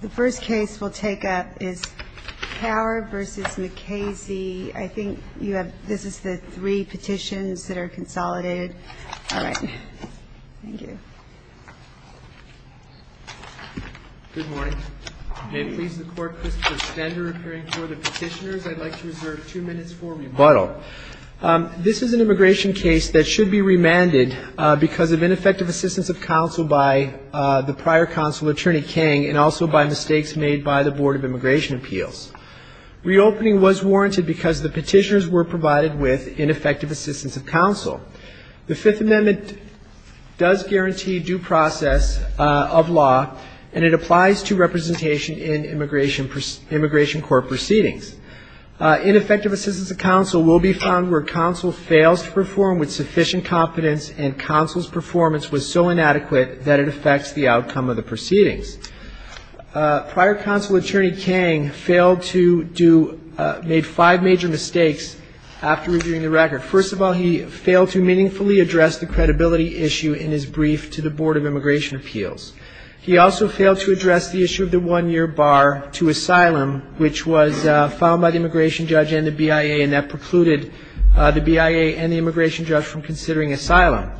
The first case we'll take up is Kaur v. McKaysey. I think you have, this is the three petitions that are consolidated. All right. Thank you. Good morning. May it please the Court, Christopher Stender appearing before the petitioners. I'd like to reserve two minutes for rebuttal. This is an immigration case that should be remanded because of ineffective assistance of counsel by the prior counsel, Attorney Kang, and also by mistakes made by the Board of Immigration Appeals. Reopening was warranted because the petitioners were provided with ineffective assistance of counsel. The Fifth Amendment does guarantee due process of law, and it applies to representation in immigration court proceedings. Ineffective assistance of counsel will be found where counsel fails to perform with sufficient competence and counsel's performance was so inadequate that it affects the outcome of the proceedings. Prior counsel, Attorney Kang, failed to do, made five major mistakes after reviewing the record. First of all, he failed to meaningfully address the credibility issue in his brief to the asylum, which was filed by the immigration judge and the BIA, and that precluded the BIA and the immigration judge from considering asylum.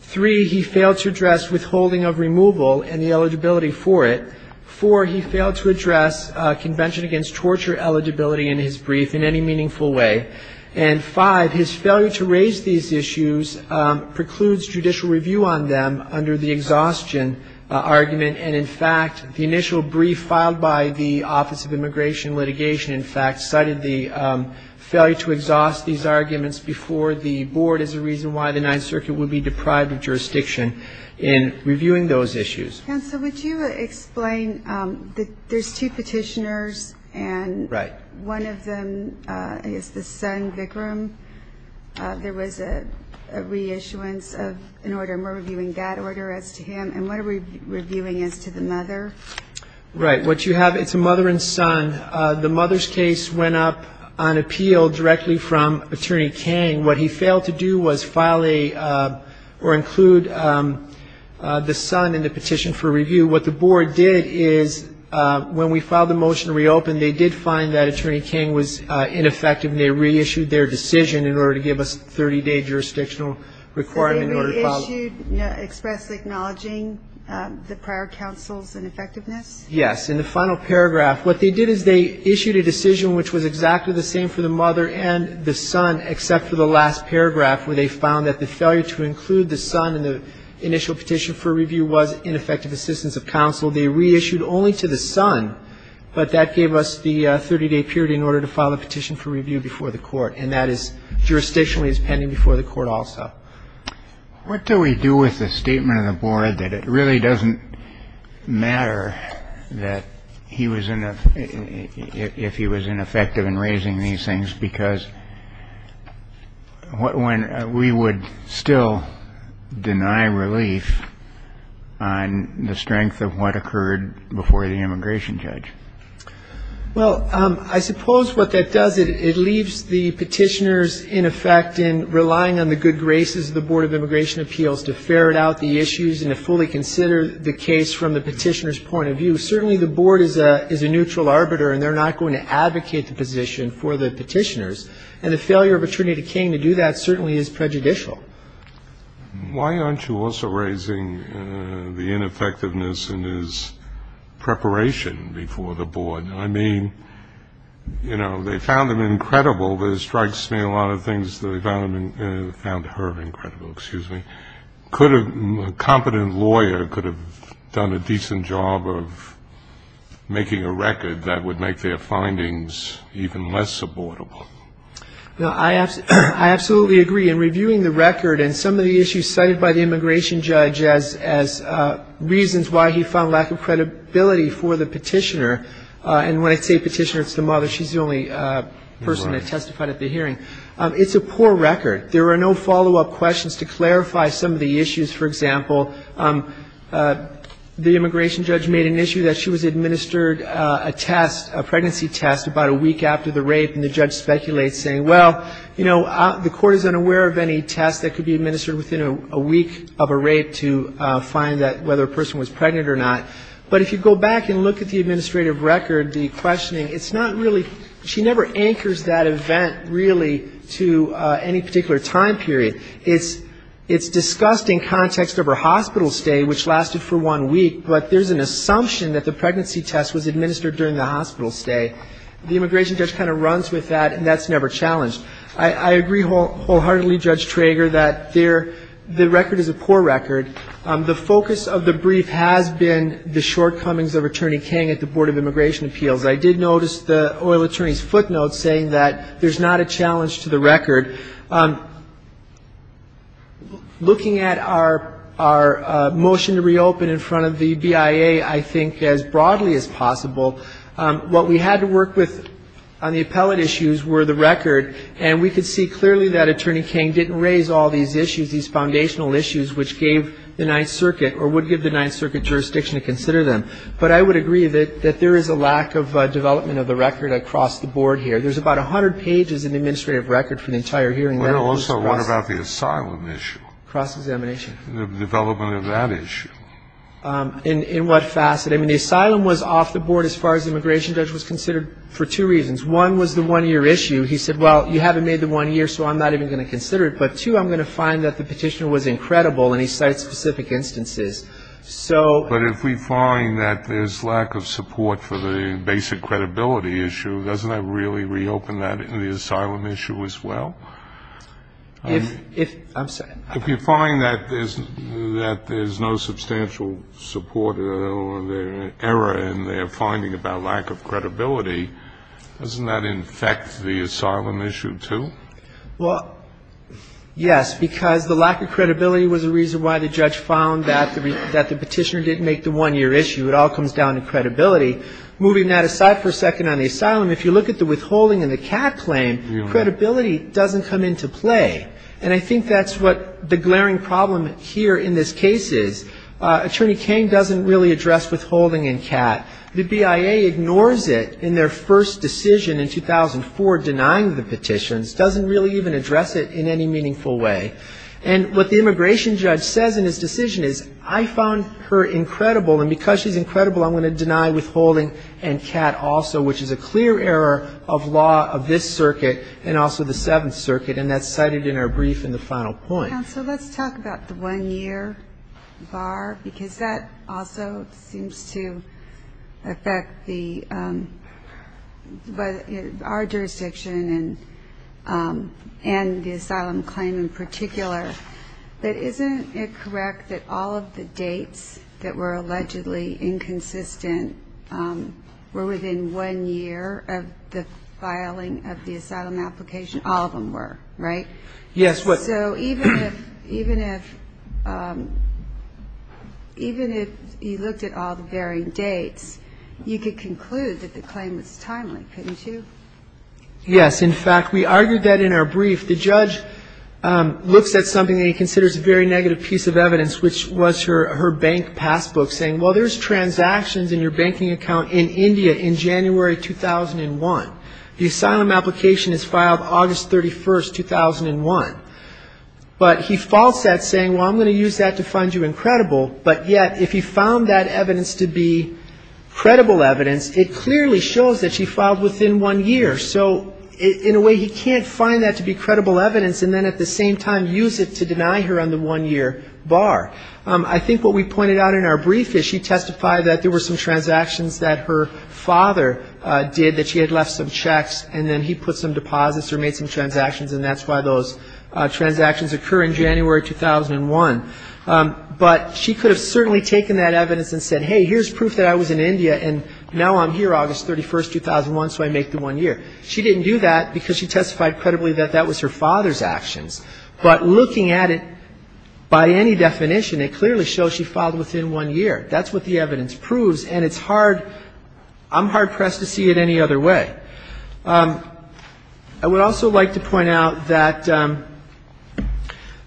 Three, he failed to address withholding of removal and the eligibility for it. Four, he failed to address convention against torture eligibility in his brief in any meaningful way. And five, his failure to raise these issues precludes judicial review on them under the exhaustion argument. And, in fact, the initial brief filed by the Office of Immigration and Litigation, in fact, cited the failure to exhaust these arguments before the Board as a reason why the Ninth Circuit would be deprived of jurisdiction in reviewing those issues. And so would you explain that there's two petitioners and one of them is the son, Vikram. There was a reissuance of an order, and we're reviewing that order as to him, and what are we reviewing as to the mother? Right. What you have, it's a mother and son. The mother's case went up on appeal directly from Attorney Kang. What he failed to do was file a, or include the son in the petition for review. What the Board did is when we filed the motion to reopen, they did find that Attorney Kang was acknowledging the prior counsel's ineffectiveness. Yes. In the final paragraph, what they did is they issued a decision which was exactly the same for the mother and the son, except for the last paragraph where they found that the failure to include the son in the initial petition for review was ineffective assistance of counsel. They reissued only to the son, but that gave us the 30-day period in order to file a petition for review before the Court. And that is, jurisdictionally, is pending before the Court also. What do we do with the statement of the Board that it really doesn't matter that he was, if he was ineffective in raising these things, because we would still deny relief on the strength of what occurred before the immigration judge? Well, I suppose what that does, it leaves the petitioners, in effect, in relying on the good graces of the Board of Immigration Appeals to ferret out the issues and to fully consider the case from the petitioner's point of view. Certainly the Board is a neutral arbiter, and they're not going to advocate the position for the petitioners. And the failure of Attorney Kang to do that certainly is prejudicial. Why aren't you also raising the ineffectiveness in his preparation before the Court? I mean, you know, they found him incredible, but it strikes me a lot of things that they found her incredible, excuse me. A competent lawyer could have done a decent job of making a record that would make their findings even less supportable. Well, I absolutely agree. In reviewing the record and some of the issues cited by the immigration judge as reasons why he found lack of support for the petitioner, and when I say petitioner, it's the mother. She's the only person that testified at the hearing. It's a poor record. There are no follow-up questions to clarify some of the issues. For example, the immigration judge made an issue that she was administered a test, a pregnancy test, about a week after the rape, and the judge speculates, saying, well, you know, the court is unaware of any test that could be administered within a week of a rape to find whether a person was pregnant or not. But if you go back and look at the administrative record, the questioning, it's not really ‑‑ she never anchors that event, really, to any particular time period. It's discussed in context of her hospital stay, which lasted for one week, but there's an assumption that the pregnancy test was administered during the hospital stay. The immigration judge kind of runs with that, and that's never challenged. I agree wholeheartedly, Judge Trager, that the record is a poor record. The focus of the brief has been the shortcomings of Attorney King at the Board of Immigration Appeals. I did notice the oil attorney's footnote saying that there's not a challenge to the record. Looking at our motion to reopen in front of the BIA, I think as broadly as possible, what we had to work with on the appellate issues were the record, and we could see clearly that Attorney King didn't raise all these issues, these foundational issues, which gave the Ninth Circuit, or would give the Ninth Circuit jurisdiction to consider them. But I would agree that there is a lack of development of the record across the board here. There's about 100 pages in the administrative record for the entire hearing. In what facet? I mean, the asylum was off the board as far as the immigration judge was considered for two reasons. One was the one-year issue. He said, well, you haven't made the one year, so I'm not even going to consider it. But two, I'm going to find that the record is not credible, and he cites specific instances. But if we find that there's lack of support for the basic credibility issue, doesn't that really reopen that in the asylum issue as well? If you find that there's no substantial support or error in their finding about lack of credibility, doesn't that infect the asylum issue, too? Well, yes, because the lack of credibility was a reason why the judge found that the petitioner didn't make the one-year issue. It all comes down to credibility. Moving that aside for a second on the asylum, if you look at the withholding and the CAT claim, credibility doesn't come into play. And I think that's what the glaring problem here in this case is. Attorney King doesn't really address withholding and CAT. The BIA ignores it in their first decision in 2004 denying the petitions. Doesn't really address the issue in any meaningful way. And what the immigration judge says in his decision is, I found her incredible, and because she's incredible, I'm going to deny withholding and CAT also, which is a clear error of law of this circuit and also the Seventh Circuit, and that's cited in our brief in the final point. Counsel, let's talk about the one-year bar, because that also seems to affect the – our jurisdiction and our jurisdiction. And the asylum claim in particular. But isn't it correct that all of the dates that were allegedly inconsistent were within one year of the filing of the asylum application? All of them were, right? Yes. So even if you looked at all the varying dates, you could conclude that the claim was timely, couldn't you? Yes. In fact, we argued that in our brief. The judge looks at something that he considers a very negative piece of evidence, which was her bank passbook, saying, well, there's transactions in your banking account in India in January 2001. The asylum application is filed August 31st, 2001. But he false that, saying, well, I'm going to use that to find you incredible. But yet, if he found that evidence to be credible evidence, it clearly shows that she filed within one year of the filing of the asylum application. So in a way, he can't find that to be credible evidence and then at the same time use it to deny her on the one-year bar. I think what we pointed out in our brief is she testified that there were some transactions that her father did, that she had left some checks, and then he put some deposits or made some transactions, and that's why those transactions occur in January 2001. But she could have certainly taken that evidence and said, hey, here's proof that I was in India, and now I'm here August 31st, 2001, so I make the one year. She didn't do that because she testified credibly that that was her father's actions. But looking at it, by any definition, it clearly shows she filed within one year. That's what the evidence proves, and it's hard, I'm hard- pressed to see it any other way. I would also like to point out that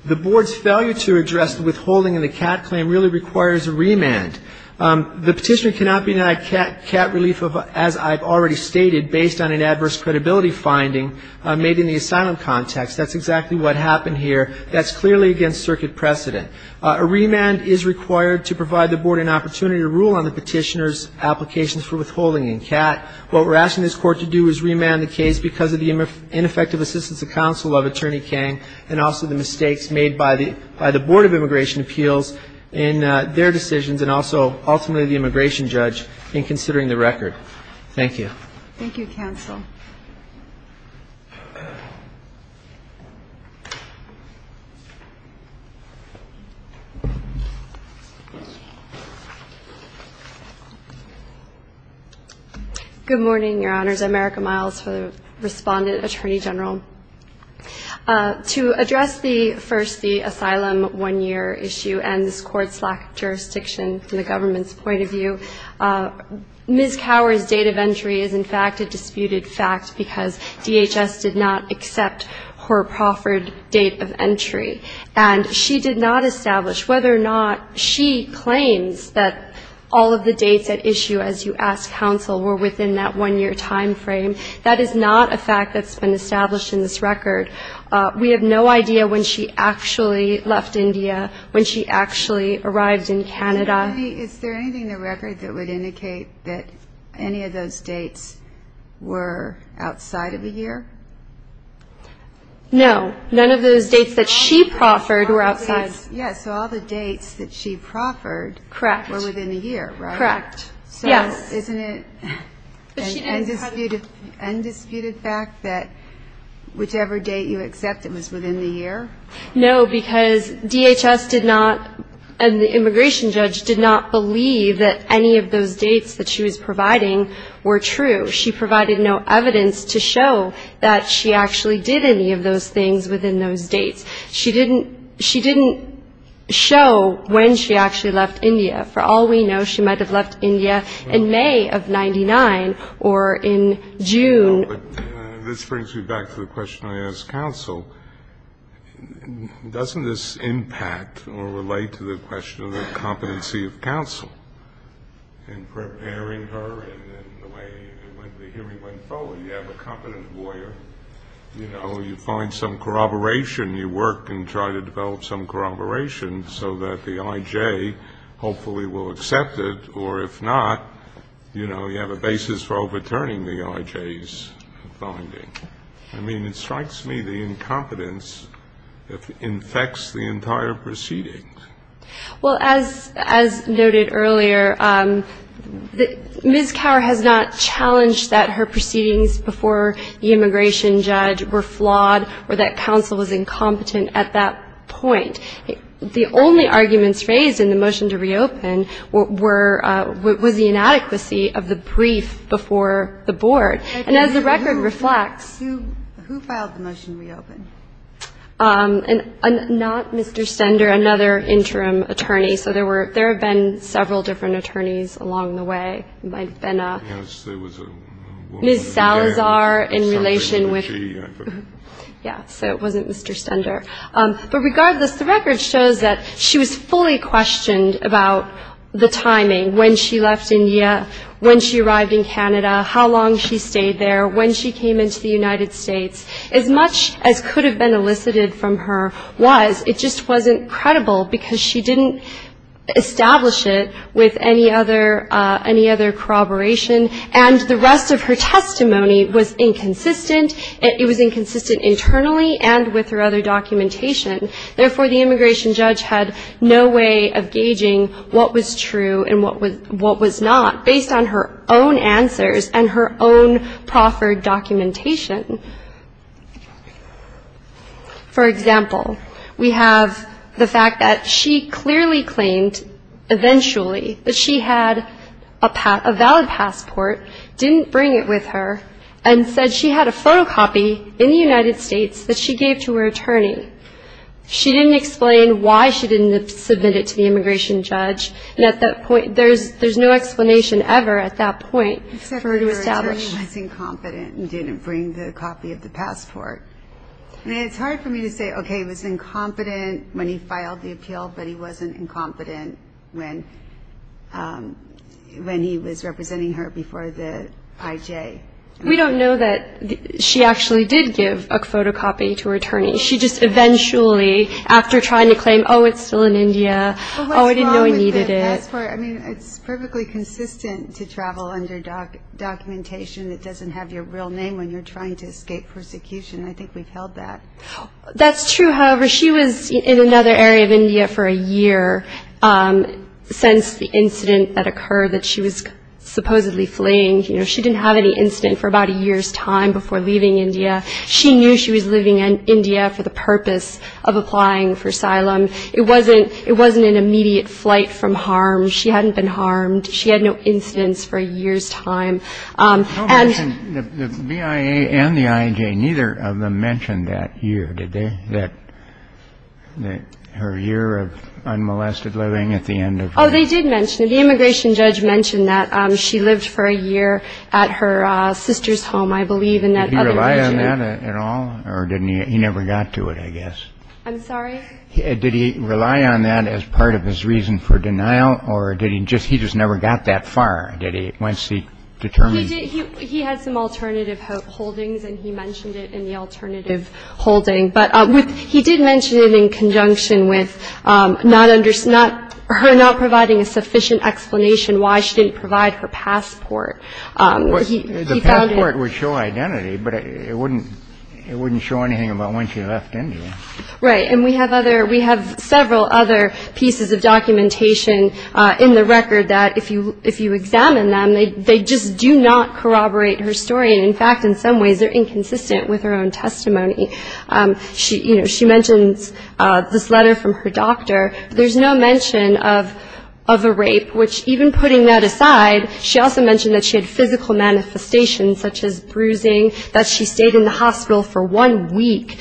the board's failure to address the withholding and the CAT claim really requires a remand. The petitioner cannot be denied CAT relief, as I've already stated. The petitioner cannot be denied CAT relief, as I've already stated, based on an adverse credibility finding made in the asylum context. That's exactly what happened here. That's clearly against circuit precedent. A remand is required to provide the board an opportunity to rule on the petitioner's applications for withholding in CAT. What we're asking this Court to do is remand the case because of the ineffective assistance of counsel of Attorney Kang, and also the mistakes made by the Board of Immigration Appeals in their decisions, and also, ultimately, the immigration judge in considering the record. Thank you. Thank you, counsel. Good morning, Your Honors. America Miles for the respondent, Attorney General. To address the first, the asylum one-year issue and this Court's lack of jurisdiction from the government's point of view, Ms. Cower's date of entry is, in fact, a disputed fact because DHS did not accept her proffered date of entry. And she did not establish whether or not she claims that all of the dates at issue, as you ask counsel, were within that one-year time frame. That is not a fact that's been established in this record. We have no idea when she actually left India, when she actually left the United States, or when she actually left Canada. Is there anything in the record that would indicate that any of those dates were outside of a year? No. None of those dates that she proffered were outside. Yes. So all the dates that she proffered were within a year, right? Correct. Yes. So isn't it an undisputed fact that whichever date you accept it was within the year? No, because DHS did not, and the immigration judge did not believe that any of those dates that she was providing were true. She provided no evidence to show that she actually did any of those things within those dates. She didn't show when she actually left India. For all we know, she might have left India in May of 99 or in June. This brings me back to the question I asked counsel. Doesn't this impact or relate to the question of the competency of counsel in preparing her and the way the hearing went forward? You have a competent lawyer, you know, you find some corroboration, you work and try to develop some corroboration so that the I.J. hopefully will accept it, or if not, you have a basis for overturning the I.J.'s finding. I mean, it strikes me the incompetence infects the entire proceedings. Well, as noted earlier, Ms. Cower has not challenged that her proceedings before the immigration judge were flawed or that counsel was incompetent at that point. The only arguments raised in the motion to reopen was the inadequacy of the brief before the board. And as the record reflects... And not Mr. Stender, another interim attorney. So there have been several different attorneys along the way. It might have been a Ms. Salazar in relation with Mr. Stender. But regardless, the record shows that she was fully questioned about the timing, when she left India, when she arrived in Canada, how long she stayed there, when she came into the United States. As much as could have been elicited from her was, it just wasn't credible because she didn't establish it with any other corroboration. And the rest of her testimony was inconsistent. It was inconsistent internally and with her other documentation. Therefore, the immigration judge had no way of gauging what was true and what was not. Based on her own answers and her own proffered documentation. For example, we have the fact that she clearly claimed eventually that she had a valid passport, didn't bring it with her, and said she had a photocopy in the United States that she gave to her attorney. She didn't explain why she didn't submit it to the immigration judge. There was no explanation ever at that point for her to establish. It's hard for me to say, okay, he was incompetent when he filed the appeal, but he wasn't incompetent when he was representing her before the IJ. We don't know that she actually did give a photocopy to her attorney. She just eventually, after trying to claim, oh, it's still in India, oh, I don't know, she didn't submit it to the immigration judge. It's typically consistent to travel under documentation that doesn't have your real name when you're trying to escape persecution. I think we've held that. That's true, however, she was in another area of India for a year since the incident that occurred that she was supposedly fleeing. She didn't have any incident for about a year's time before leaving India. She knew she was leaving India for the purpose of applying for asylum. It wasn't an immediate flight from harm. She hadn't been harmed. She had no incidents for a year's time. And the BIA and the IJ, neither of them mentioned that year, did they, that her year of unmolested living at the end of her life? Oh, they did mention it. The immigration judge mentioned that she lived for a year at her sister's home, I believe, in that other region. Did he rely on that at all, or he never got to it, I guess? I'm sorry? Did he rely on that as part of his reason for denial, or did he just he just never got that far? Did he once he determined he had some alternative holdings and he mentioned it in the alternative holding. But he did mention it in conjunction with not under not her not providing a sufficient explanation why she didn't provide her passport. The passport would show identity, but it wouldn't it wouldn't show anything about when she left India. Right. And we have other we have several other pieces of documentation in the record that if you if you examine them, they just do not corroborate her story. And in fact, in some ways, they're inconsistent with her own testimony. She she mentions this letter from her doctor. There's no mention of of a rape, which even putting that aside, she also mentioned that she had physical manifestations such as bruising, that she stayed in the hospital for one week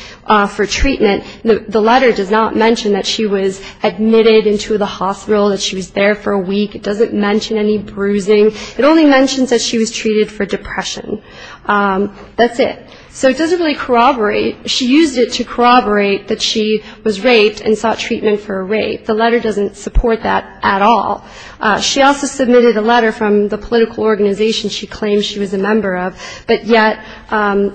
for treatment. The letter does not mention that she was admitted into the hospital, that she was there for a week. It doesn't mention any bruising. It only mentions that she was treated for depression. That's it. So it doesn't really corroborate. She used it to corroborate that she was raped and sought treatment for a rape. The letter doesn't support that at all. She also submitted a letter from the political organization she claimed she was a member of. But yet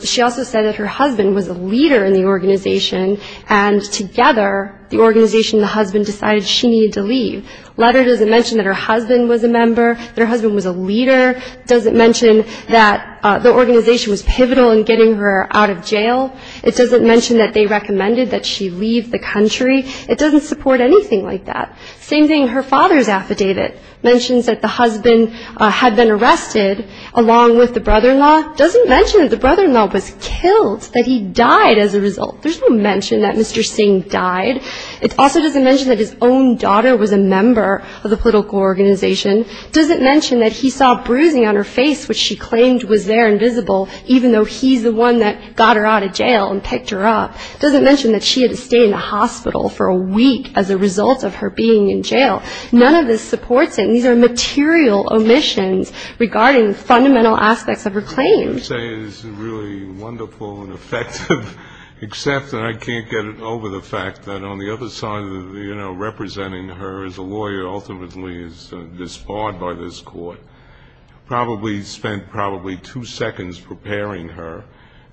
she also said that her husband was a leader in the organization. And together, the organization, the husband decided she needed to leave. Letter doesn't mention that her husband was a member. Their husband was a leader. Doesn't mention that the organization was pivotal in getting her out of jail. It doesn't mention that they recommended that she leave the country. It doesn't support anything like that. Same thing, her father's affidavit mentions that the husband had been arrested along with the brother-in-law. Doesn't mention that the brother-in-law was killed, that he died as a result. There's no mention that Mr. Singh died. It also doesn't mention that his own daughter was a member of the political organization. Doesn't mention that he saw bruising on her face, which she claimed was there and visible, even though he's the one that got her out of jail and picked her up. Doesn't mention that she had to stay in the hospital for a week as a result of her being in jail. None of this supports it. These are material omissions regarding fundamental aspects of her claims. You say this is really wonderful and effective, except that I can't get it over the fact that on the other side of, you know, representing her as a lawyer ultimately is disbarred by this court. I mean, you probably spent probably two seconds preparing her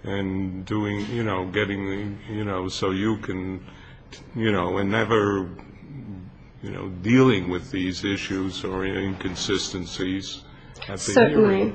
and doing, you know, getting the, you know, so you can, you know, and never, you know, dealing with these issues or inconsistencies at the hearing. Certainly.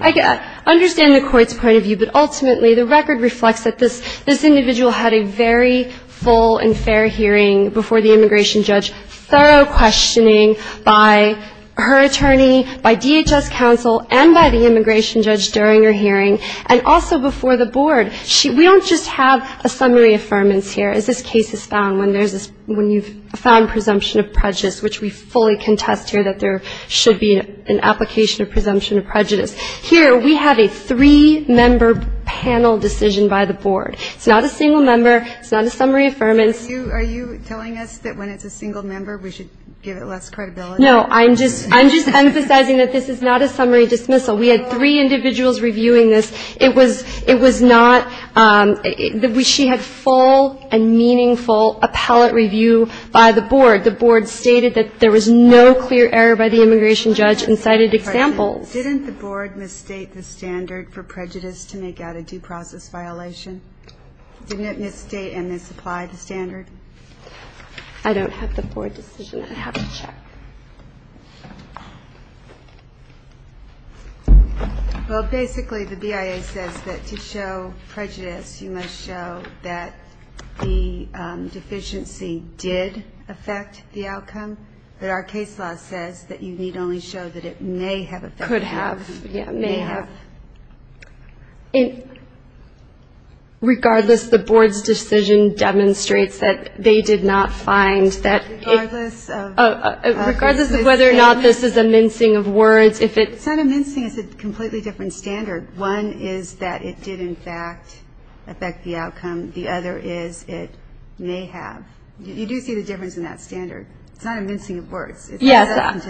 I understand the court's point of view, but ultimately the record reflects that this individual had a very full and fair hearing before the immigration judge, thorough questioning by her attorney, by DHS counsel and by the immigration judge during her hearing, and also before the board. We don't just have a summary affirmance here, as this case is found when there's this, when you've found presumption of prejudice, which we fully contest here that there should be an application of presumption of prejudice. Here we have a three-member panel decision by the board. It's not a single member. It's not a summary affirmance. Are you telling us that when it's a single member, we should give it less credibility? No, I'm just, I'm just emphasizing that this is not a summary dismissal. We had three individuals reviewing this. It was, it was not, she had full and meaningful appellate review by the board. The board stated that there was no clear error by the immigration judge and cited examples. Didn't the board misstate the standard for prejudice to make out a due process violation? Didn't it misstate and misapply the standard? I don't have the board decision. I have to check. Well, basically, the BIA says that to show prejudice, you must show that the deficiency did affect the outcome. But our case law says that you need only show that it may have affected the outcome. Could have, yeah, may have. Regardless, the board's decision demonstrates that they did not find that. Regardless of whether or not this is a mincing of words. It's not a mincing, it's a completely different standard. One is that it did in fact affect the outcome. The other is it may have. You do see the difference in that standard. It's not a mincing of words. Yes,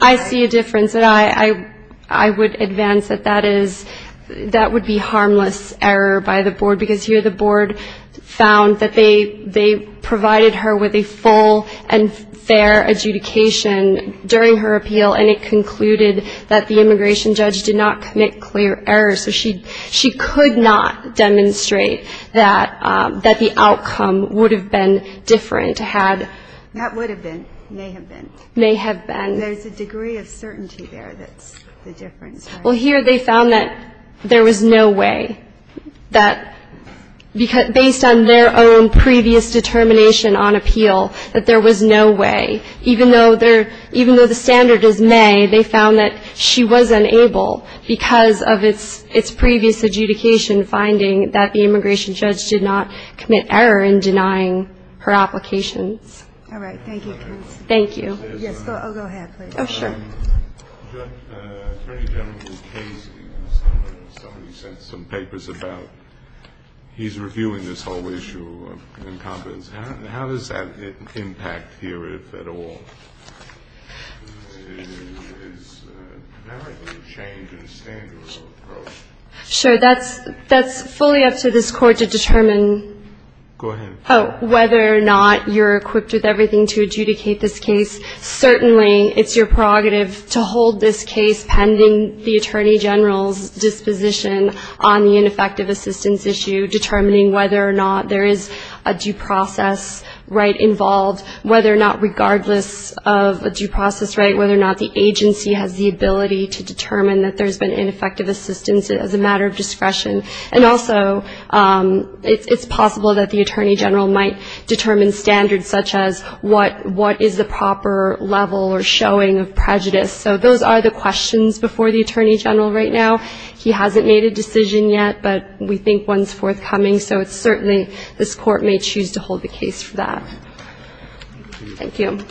I see a difference. And I would advance that that is, that would be harmless error by the board. Because here the board found that they provided her with a full and fair adjudication during her appeal. And it concluded that the immigration judge did not commit clear error. So she could not demonstrate that the outcome would have been different had. That would have been, may have been. May have been. There's a degree of certainty there that's the difference. Well, here they found that there was no way that, based on their own previous determination on appeal, that there was no way. Even though the standard is may, they found that she was unable, because of its previous adjudication, finding that the immigration judge did not commit error in denying her applications. All right. Thank you. Thank you. Yes, I'll go ahead, please. Somebody sent some papers about he's reviewing this whole issue of incompetence. How does that impact here at all? Sure. That's fully up to this Court to determine whether or not you're equipped with everything to adjudicate this case. Certainly it's your prerogative to hold this case pending the attorney general's disposition on the ineffective assistance issue, determining whether or not there is a due process right involved, whether or not regardless of a due process right, whether or not the agency has the ability to determine that there's been ineffective assistance as a matter of discretion. And also it's possible that the attorney general might determine standards such as what is the proper level or showing of prejudice. So those are the questions before the attorney general right now. He hasn't made a decision yet, but we think one's forthcoming. So it's certainly this Court may choose to hold the case for that. Thank you.